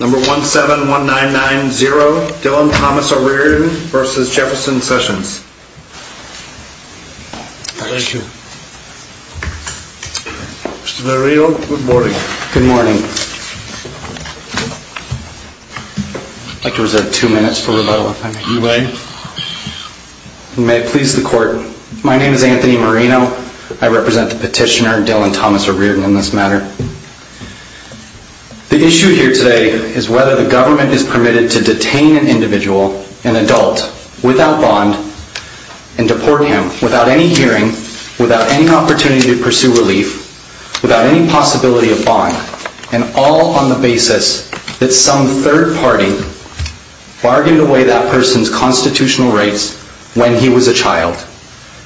Number 171990, Dylan Thomas O'Riordan v. Jefferson Sessions Thank you Mr. Marino, good morning Good morning I'd like to reserve two minutes for rebuttal if I may You may May it please the court, my name is Anthony Marino I represent the petitioner Dylan Thomas O'Riordan in this matter The issue here today is whether the government is permitted to detain an individual, an adult, without bond and deport him without any hearing, without any opportunity to pursue relief, without any possibility of bond and all on the basis that some third party bargained away that person's constitutional rights when he was a child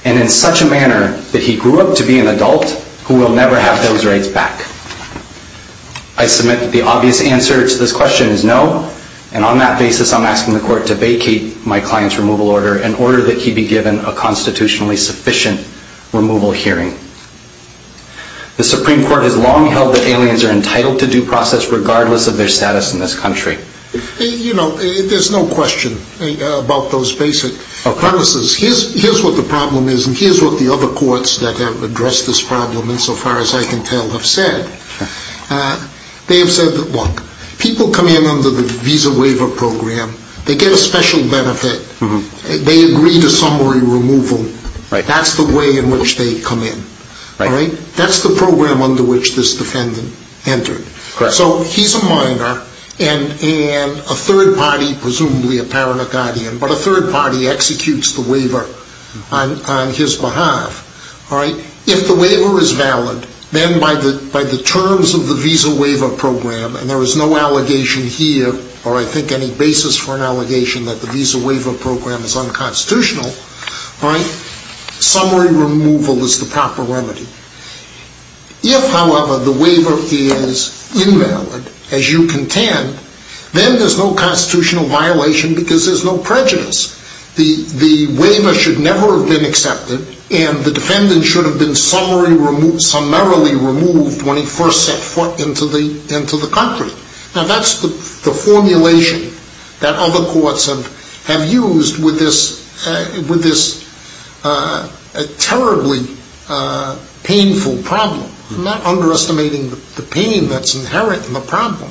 and in such a manner that he grew up to be an adult who will never have those rights back I submit that the obvious answer to this question is no and on that basis I'm asking the court to vacate my client's removal order in order that he be given a constitutionally sufficient removal hearing The Supreme Court has long held that aliens are entitled to due process regardless of their status in this country You know, there's no question about those basic premises Here's what the problem is and here's what the other courts that have addressed this problem in so far as I can tell have said They have said that look, people come in under the visa waiver program, they get a special benefit, they agree to summary removal That's the way in which they come in That's the program under which this defendant entered So he's a minor and a third party, presumably a paranoid guardian, but a third party executes the waiver on his behalf If the waiver is valid, then by the terms of the visa waiver program, and there is no allegation here or I think any basis for an allegation that the visa waiver program is unconstitutional summary removal is the proper remedy If, however, the waiver is invalid, as you contend, then there's no constitutional violation because there's no prejudice The waiver should never have been accepted and the defendant should have been summarily removed when he first set foot into the country Now that's the formulation that other courts have used with this terribly painful problem I'm not underestimating the pain that's inherent in the problem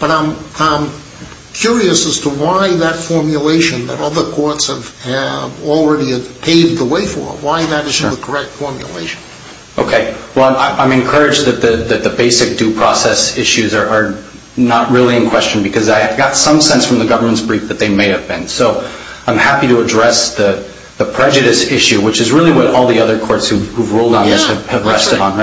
But I'm curious as to why that formulation that other courts have already paved the way for, why that isn't the correct formulation I'm encouraged that the basic due process issues are not really in question because I've got some sense from the government's brief that they may have been I'm happy to address the prejudice issue, which is really what all the other courts who have ruled on this have rested on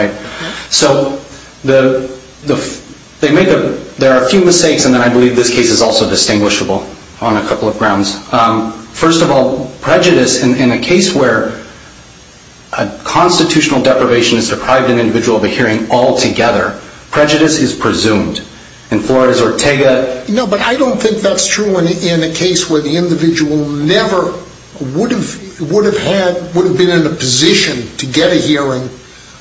There are a few mistakes, and I believe this case is also distinguishable on a couple of grounds First of all, prejudice in a case where a constitutional deprivation has deprived an individual of a hearing altogether Prejudice is presumed In Florida's Ortega No, but I don't think that's true in a case where the individual would have been in a position to get a hearing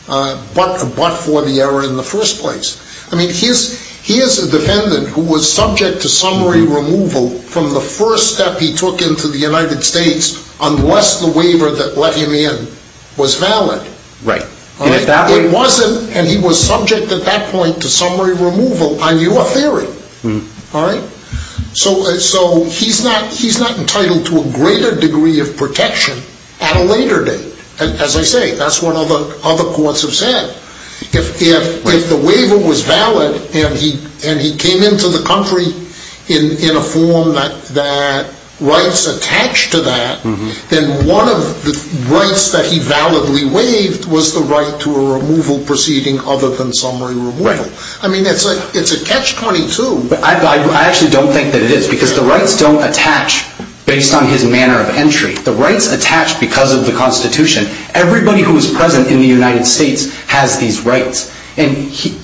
but for the error in the first place I mean, here's a defendant who was subject to summary removal from the first step he took into the United States unless the waiver that let him in was valid Right It wasn't, and he was subject at that point to summary removal on your theory So he's not entitled to a greater degree of protection at a later date As I say, that's what other courts have said If the waiver was valid, and he came into the country in a form that rights attached to that then one of the rights that he validly waived was the right to a removal proceeding other than summary removal I mean, it's a catch-22 I actually don't think that it is, because the rights don't attach based on his manner of entry The rights attach because of the Constitution Everybody who is present in the United States has these rights And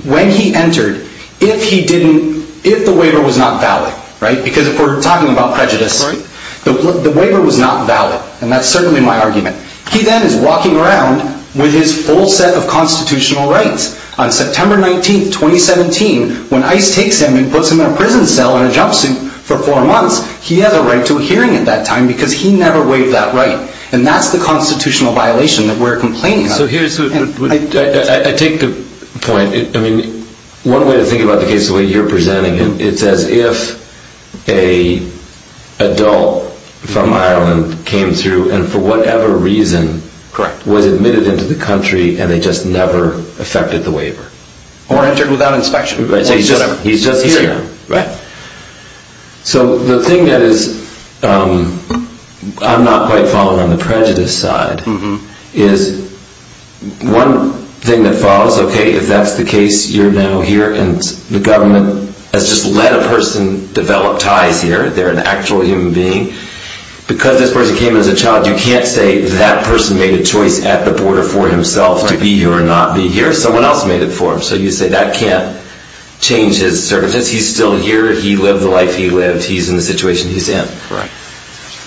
when he entered, if he didn't, if the waiver was not valid Right, because if we're talking about prejudice Right The waiver was not valid, and that's certainly my argument He then is walking around with his full set of constitutional rights On September 19th, 2017, when ICE takes him and puts him in a prison cell in a jumpsuit for four months He has a right to a hearing at that time, because he never waived that right And that's the constitutional violation that we're complaining about So here's what, I take the point I mean, one way to think about the case the way you're presenting it It's as if an adult from Ireland came through and for whatever reason Correct Was admitted into the country, and they just never effected the waiver Or entered without inspection He's just here Right So the thing that is, I'm not quite following on the prejudice side Is one thing that follows, okay, if that's the case, you're now here And the government has just let a person develop ties here They're an actual human being Because this person came as a child, you can't say that person made a choice at the border for himself To be here or not be here Someone else made it for him So you say that can't change his services Because he's still here, he lived the life he lived He's in the situation he's in Right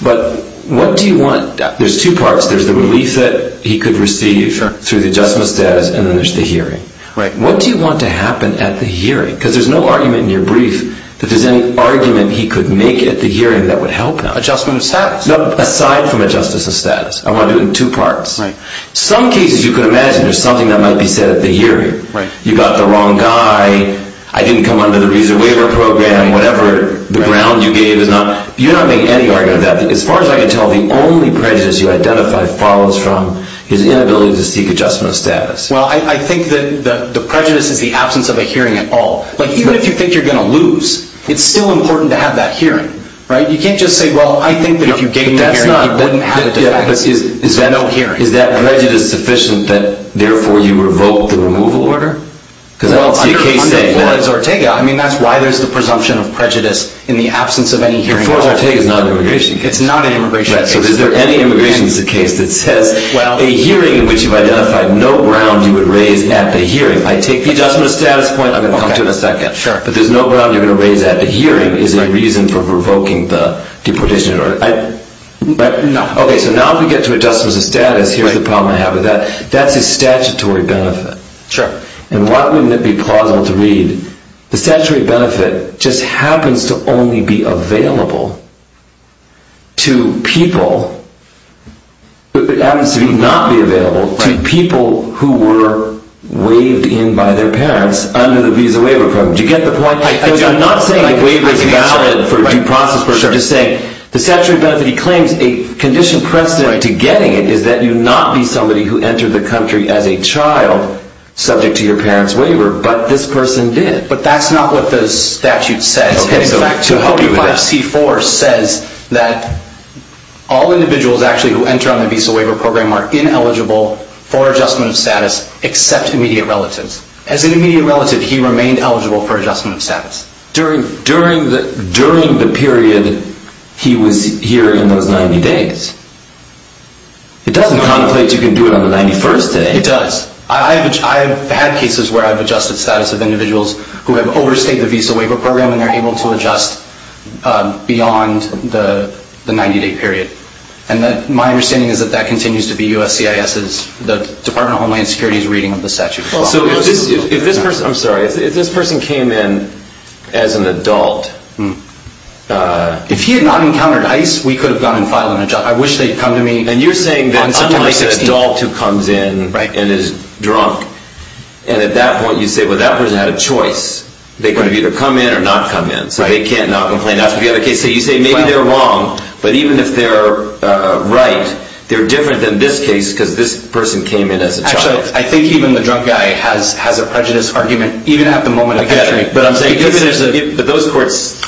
But what do you want? There's two parts There's the relief that he could receive through the adjustment of status And then there's the hearing Right What do you want to happen at the hearing? Because there's no argument in your brief that there's any argument he could make at the hearing that would help him Adjustment of status No, aside from adjustment of status I want to do it in two parts Right Some cases you could imagine there's something that might be said at the hearing Right You got the wrong guy I didn't come under the reason waiver program Whatever, the ground you gave is not You're not making any argument of that As far as I can tell, the only prejudice you identify follows from his inability to seek adjustment of status Well, I think that the prejudice is the absence of a hearing at all Like, even if you think you're going to lose It's still important to have that hearing Right, you can't just say, well, I think that if you gave me a hearing, he wouldn't have a defense There's no hearing Is that prejudice sufficient that, therefore, you revoke the removal order? Well, under Forza Ortega, I mean, that's why there's the presumption of prejudice in the absence of any hearing Forza Ortega is not an immigration case It's not an immigration case Right, so is there any immigration case that says a hearing in which you've identified no ground you would raise at the hearing I take the adjustment of status point, I'm going to come to it in a second Sure But there's no ground you're going to raise at the hearing as a reason for revoking the deportation order No Okay, so now if we get to adjustment of status, here's the problem I have with that That's a statutory benefit Sure And why wouldn't it be plausible to read, the statutory benefit just happens to only be available to people It happens to not be available to people who were waived in by their parents under the visa waiver program Do you get the point? I do I'm not saying the waiver is valid for due process The statutory benefit he claims, a conditioned precedent to getting it is that you not be somebody who entered the country as a child subject to your parent's waiver, but this person did But that's not what the statute says Okay, so how do you do that? In fact, 245C4 says that all individuals actually who enter on the visa waiver program are ineligible for adjustment of status except immediate relatives As an immediate relative, he remained eligible for adjustment of status During the period he was here in those 90 days It doesn't contemplate you can do it on the 91st day It does I've had cases where I've adjusted status of individuals who have overstayed the visa waiver program and they're able to adjust beyond the 90 day period And my understanding is that that continues to be USCIS's, the Department of Homeland Security's reading of the statute I'm sorry, if this person came in as an adult If he had not encountered ICE, we could have gone and filed him a job I wish they'd come to me And you're saying that unlike an adult who comes in and is drunk And at that point you say, well that person had a choice They could have either come in or not come in So they can't not complain Now if you have a case where you say maybe they're wrong, but even if they're right They're different than this case because this person came in as a child I think even the drunk guy has a prejudice argument even at the moment of injury But those courts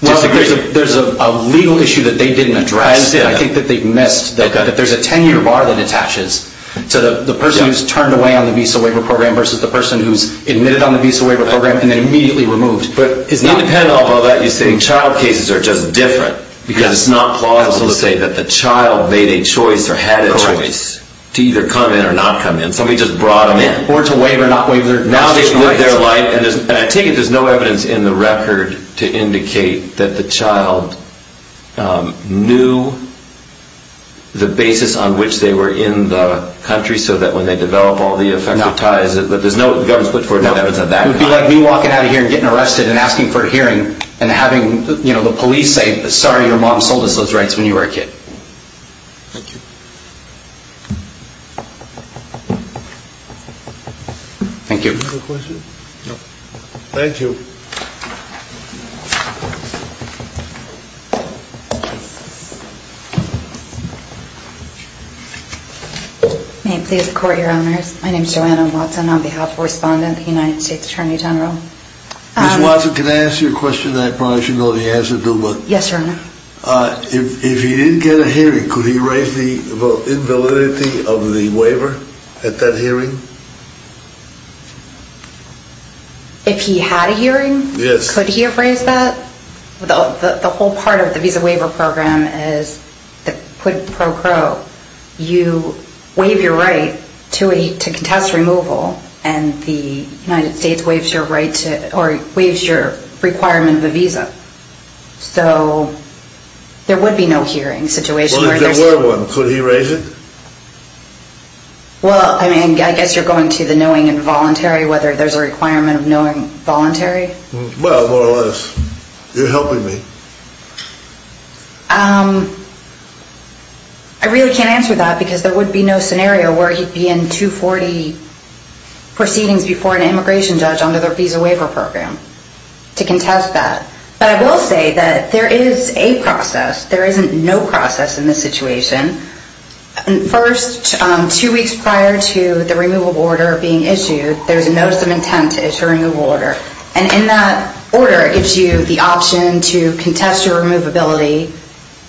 disagree There's a legal issue that they didn't address I think that they've missed that there's a 10 year bar that attaches To the person who's turned away on the visa waiver program Versus the person who's admitted on the visa waiver program and then immediately removed Independent of all that, you're saying child cases are just different Because it's not plausible to say that the child made a choice or had a choice To either come in or not come in Somebody just brought him in Or to waive or not waive their constitutional rights Now they've lived their life And I take it there's no evidence in the record to indicate that the child Knew the basis on which they were in the country So that when they develop all the effective ties There's no evidence put forward that evidence of that kind It would be like me walking out of here and getting arrested and asking for a hearing And having the police say, sorry your mom sold us those rights when you were a kid Thank you Thank you Do you have a question? No Thank you May it please the court your honors My name is Joanna Watson on behalf of the respondent The United States Attorney General Ms. Watson can I ask you a question I probably should know the answer to but Yes your honor If he didn't get a hearing Could he raise the invalidity of the waiver at that hearing? If he had a hearing Yes Could he have raised that? The whole part of the Visa Waiver Program is Pro cro You waive your right to contest removal And the United States waives your right to Or waives your requirement of a visa So There would be no hearing situation Well if there were one could he raise it? Well I guess you're going to the knowing and voluntary Whether there's a requirement of knowing voluntary Well more or less You're helping me I really can't answer that because there would be no scenario Where he'd be in 240 Proceedings before an immigration judge under the Visa Waiver Program To contest that But I will say that there is a process There isn't no process in this situation First two weeks prior to the removal order being issued There's a notice of intent to issue a removal order And in that order it gives you the option to Contest your removability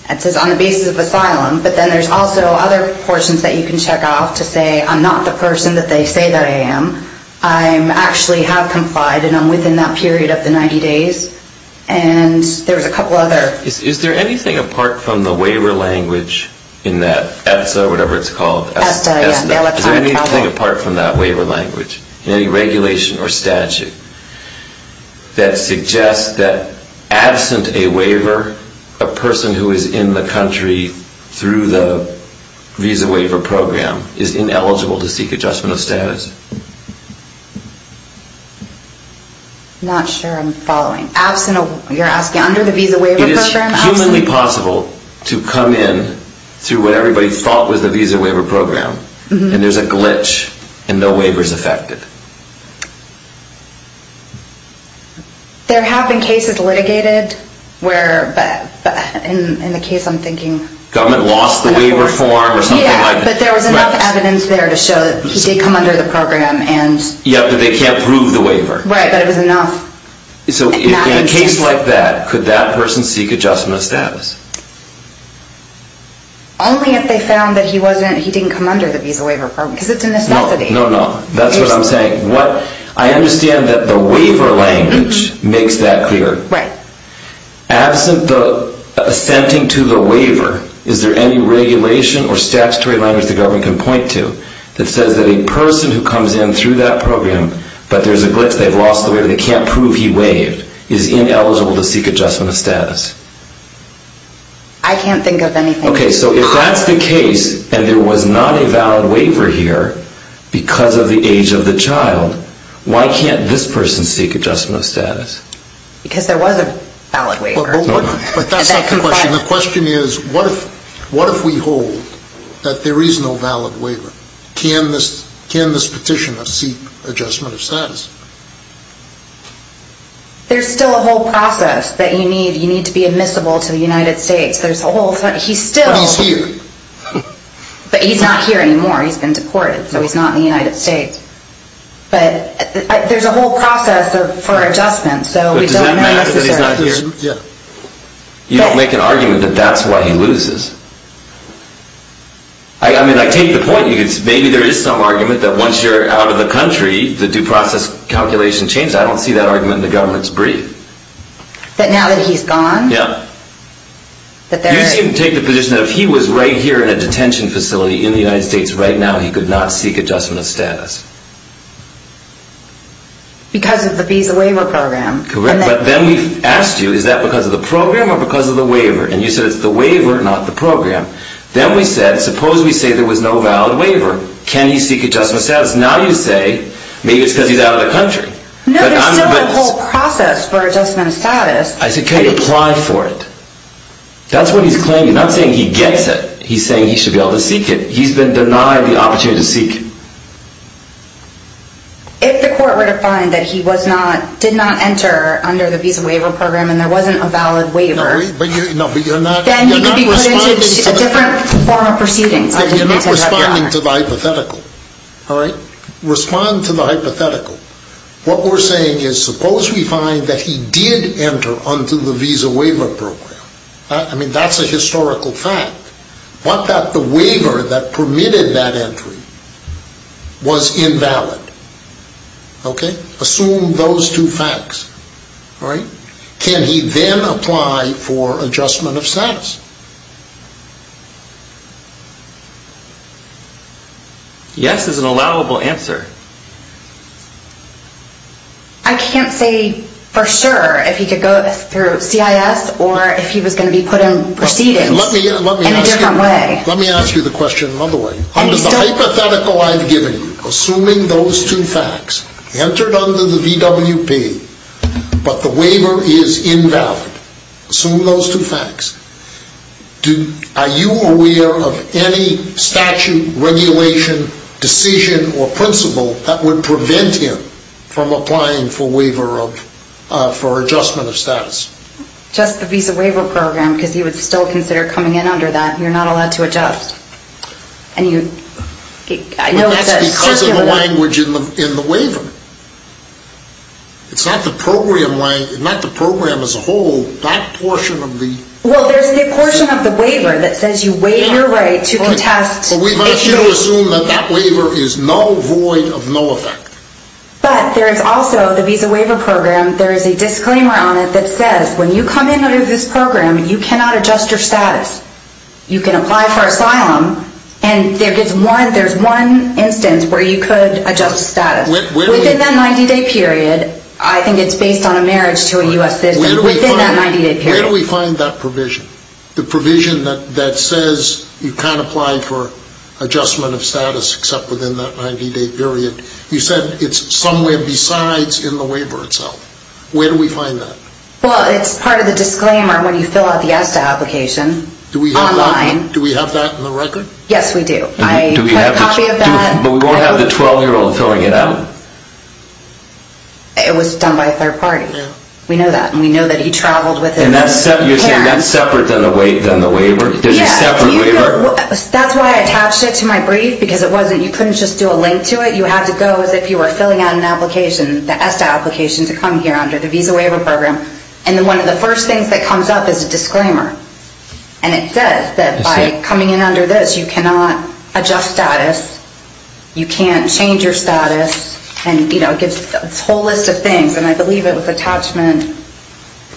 It says on the basis of asylum But then there's also other portions that you can check off To say I'm not the person that they say that I am I actually have complied and I'm within that period of the 90 days And there's a couple other Is there anything apart from the waiver language In that ETSA or whatever it's called Is there anything apart from that waiver language Any regulation or statute That suggests that absent a waiver A person who is in the country Through the Visa Waiver Program Is ineligible to seek adjustment of status Not sure I'm following You're asking under the Visa Waiver Program It is humanly possible to come in Through what everybody thought was the Visa Waiver Program And there's a glitch and no waiver is affected There have been cases litigated In the case I'm thinking Government lost the waiver form or something like that But there was enough evidence there to show That he did come under the program But they can't prove the waiver So in a case like that Could that person seek adjustment of status Only if they found that he didn't come under the Visa Waiver Program Because it's a necessity I understand that the waiver language makes that clear Absent the assenting to the waiver However, is there any regulation Or statutory language the government can point to That says that a person who comes in through that program But there's a glitch, they've lost the waiver They can't prove he waived Is ineligible to seek adjustment of status I can't think of anything If that's the case and there was not a valid waiver here Because of the age of the child Why can't this person seek adjustment of status Because there was a valid waiver But that's not the question The question is what if we hold that there is no valid waiver Can this petitioner seek adjustment of status There's still a whole process that you need You need to be admissible to the United States But he's here But he's not here anymore He's been deported so he's not in the United States But there's a whole process for adjustment Does that matter that he's not here You don't make an argument that that's why he loses I take the point Maybe there is some argument that once you're out of the country I don't see that argument in the government's brief That now that he's gone You can take the position that if he was right here In a detention facility in the United States Right now he could not seek adjustment of status Because of the visa waiver program But then we asked you is that because of the program Or because of the waiver And you said it's the waiver not the program Then we said suppose we say there was no valid waiver Can he seek adjustment of status Now you say maybe it's because he's out of the country There's still a whole process for adjustment of status Can he apply for it That's what he's claiming He's not saying he gets it He's saying he should be able to seek it He's been denied the opportunity to seek it If the court were to find that he did not enter Under the visa waiver program and there wasn't a valid waiver Then he could be put into a different form of proceedings You're not responding to the hypothetical Respond to the hypothetical What we're saying is suppose we find that he did enter Under the visa waiver program That's a historical fact The waiver that permitted that entry Was invalid Assume those two facts Can he then apply for adjustment of status Yes is an allowable answer I can't say for sure If he could go through CIS Or if he was going to be put in proceedings In a different way Let me ask you the question another way Under the hypothetical I've given you Assuming those two facts Entered under the VWP but the waiver is invalid Assume those two facts Are you aware of any statute, regulation, decision or principle That would prevent him From applying for adjustment of status Just the visa waiver program Because he would still consider coming in under that You're not allowed to adjust But that's because of the language in the waiver It's not the program as a whole That portion of the Well there's a portion of the waiver That says you waive your right to contest Assume that waiver is null void of null effect But there is also the visa waiver program There is a disclaimer on it that says When you come into this program you cannot adjust your status You can apply for asylum And there's one instance where you could adjust status Within that 90 day period I think it's based on a marriage to a US citizen Where do we find that provision The provision that says you can't apply for adjustment of status Except within that 90 day period You said it's somewhere besides in the waiver itself Where do we find that Well it's part of the disclaimer when you fill out the ESTA application Online Do we have that in the record Yes we do But we won't have the 12 year old filling it out It was done by a third party We know that And that's separate That's why I attached it to my brief Because you couldn't just do a link to it You had to go as if you were filling out an application The ESTA application to come here under the visa waiver program And one of the first things that comes up is a disclaimer And it says that by coming in under this You cannot adjust status You can't change your status And it gives a whole list of things And I believe it was attachment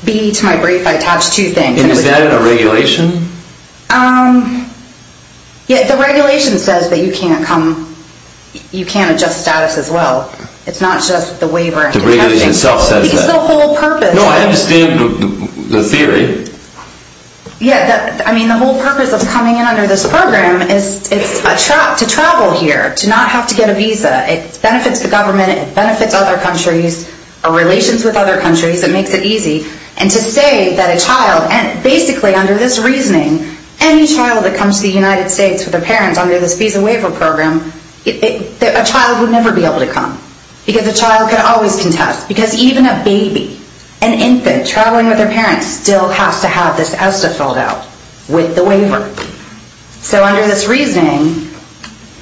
B to my brief Is that in a regulation The regulation says that you can't come You can't adjust status as well It's not just the waiver No I understand the theory The whole purpose of coming in under this program Is to travel here To not have to get a visa It benefits the government It benefits other countries It makes it easy And to say that a child Basically under this reasoning Any child that comes to the United States With their parents under this visa waiver program A child would never be able to come Because a child can always contest Because even a baby, an infant Traveling with their parents Still has to have this ESTA filled out with the waiver So under this reasoning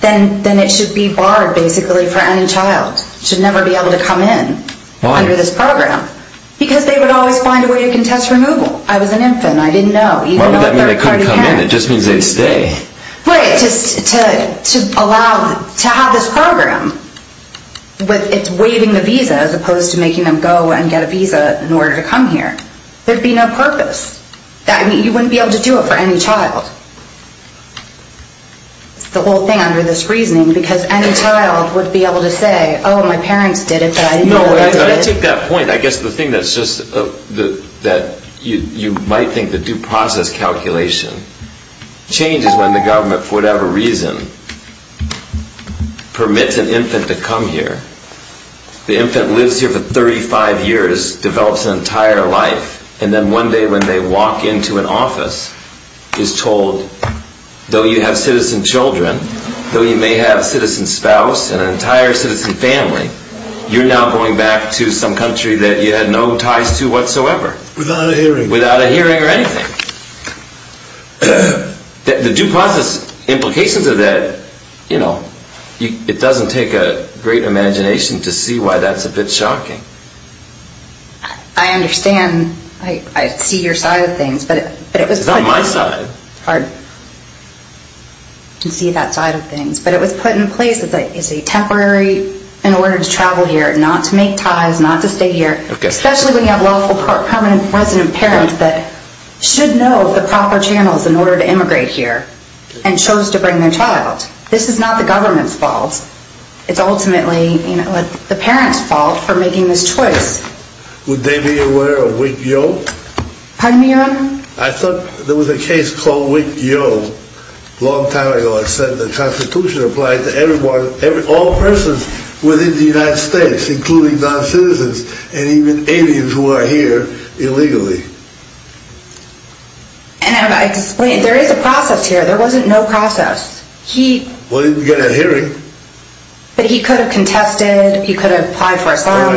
Then it should be barred basically for any child Should never be able to come in under this program Because they would always find a way to contest removal I was an infant It just means they would stay To have this program Waiving the visa As opposed to making them go and get a visa In order to come here There would be no purpose You wouldn't be able to do it for any child The whole thing under this reasoning Because any child would be able to say Oh my parents did it I take that point You might think the due process calculation Changes when the government for whatever reason Permits an infant to come here The infant lives here for 35 years Develops an entire life And then one day when they walk into an office Is told, though you have citizen children Though you may have citizen spouse And an entire citizen family You're now going back to some country That you had no ties to whatsoever Without a hearing or anything The due process implications of that It doesn't take a great imagination To see why that's a bit shocking I understand, I see your side of things It's not my side It's hard to see that side of things But it was put in place as a temporary In order to travel here, not to make ties Not to stay here Especially when you have a lawful permanent resident parent That should know the proper channels in order to immigrate here And chose to bring their child This is not the government's fault It's ultimately the parent's fault For making this choice Would they be aware of WIC-YO I thought there was a case called WIC-YO A long time ago that said the Constitution Applied to all persons within the United States Including non-citizens and even aliens Who are here illegally There is a process here There wasn't no process But he could have contested He could have applied for asylum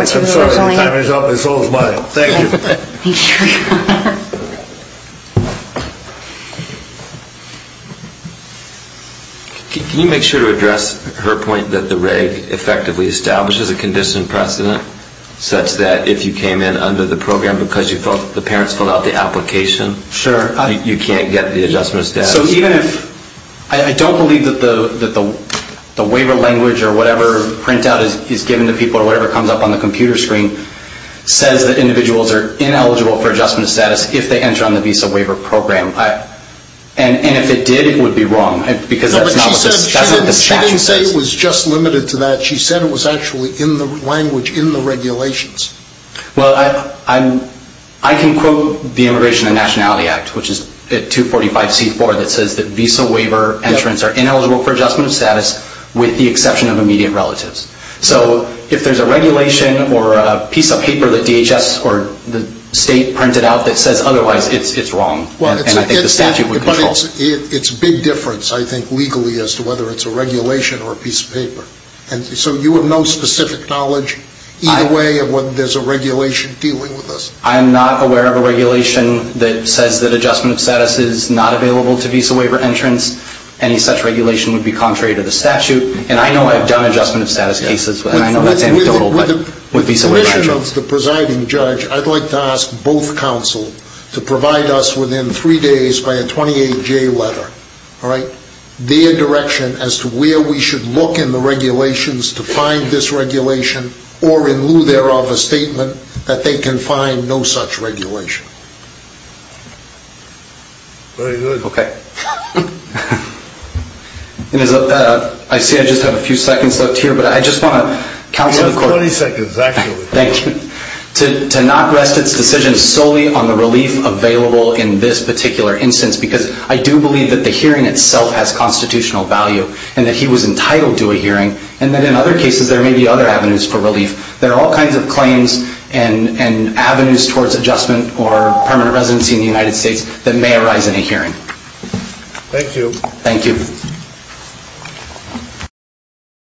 Can you make sure to address Her point that the reg Effectively establishes a condition precedent Such that if you came in under the program Because the parents filled out the application You can't get the adjustment status I don't believe that the waiver language Or whatever printout is given to people Or whatever comes up on the computer screen Says that individuals are ineligible for adjustment status If they enter on the visa waiver program And if it did, it would be wrong She didn't say it was just limited to that She said it was actually in the language, in the regulations I can quote the Immigration and Nationality Act Which is at 245C4 That says that visa waiver entrants are ineligible for adjustment status With the exception of immediate relatives So if there's a regulation or a piece of paper That DHS or the state printed out that says otherwise It's wrong and I think the statute would control It's a big difference I think legally As to whether it's a regulation or a piece of paper So you have no specific knowledge either way Of whether there's a regulation dealing with this I'm not aware of a regulation that says that adjustment status Is not available to visa waiver entrants Any such regulation would be contrary to the statute And I know I've done adjustment status cases With visa waiver entrants With the permission of the presiding judge I'd like to ask both counsel to provide us within three days By a 28J letter Their direction as to where we should look in the regulations To find this regulation Or in lieu thereof a statement That they can find no such regulation Very good I see I just have a few seconds left here But I just want to counsel the court You have 30 seconds actually To not rest it's decision solely on the relief available In this particular instance Because I do believe that the hearing itself has constitutional value And that he was entitled to a hearing And that in other cases there may be other avenues for relief There are all kinds of claims and avenues towards adjustment Or permanent residency in the United States that may arise in a hearing Thank you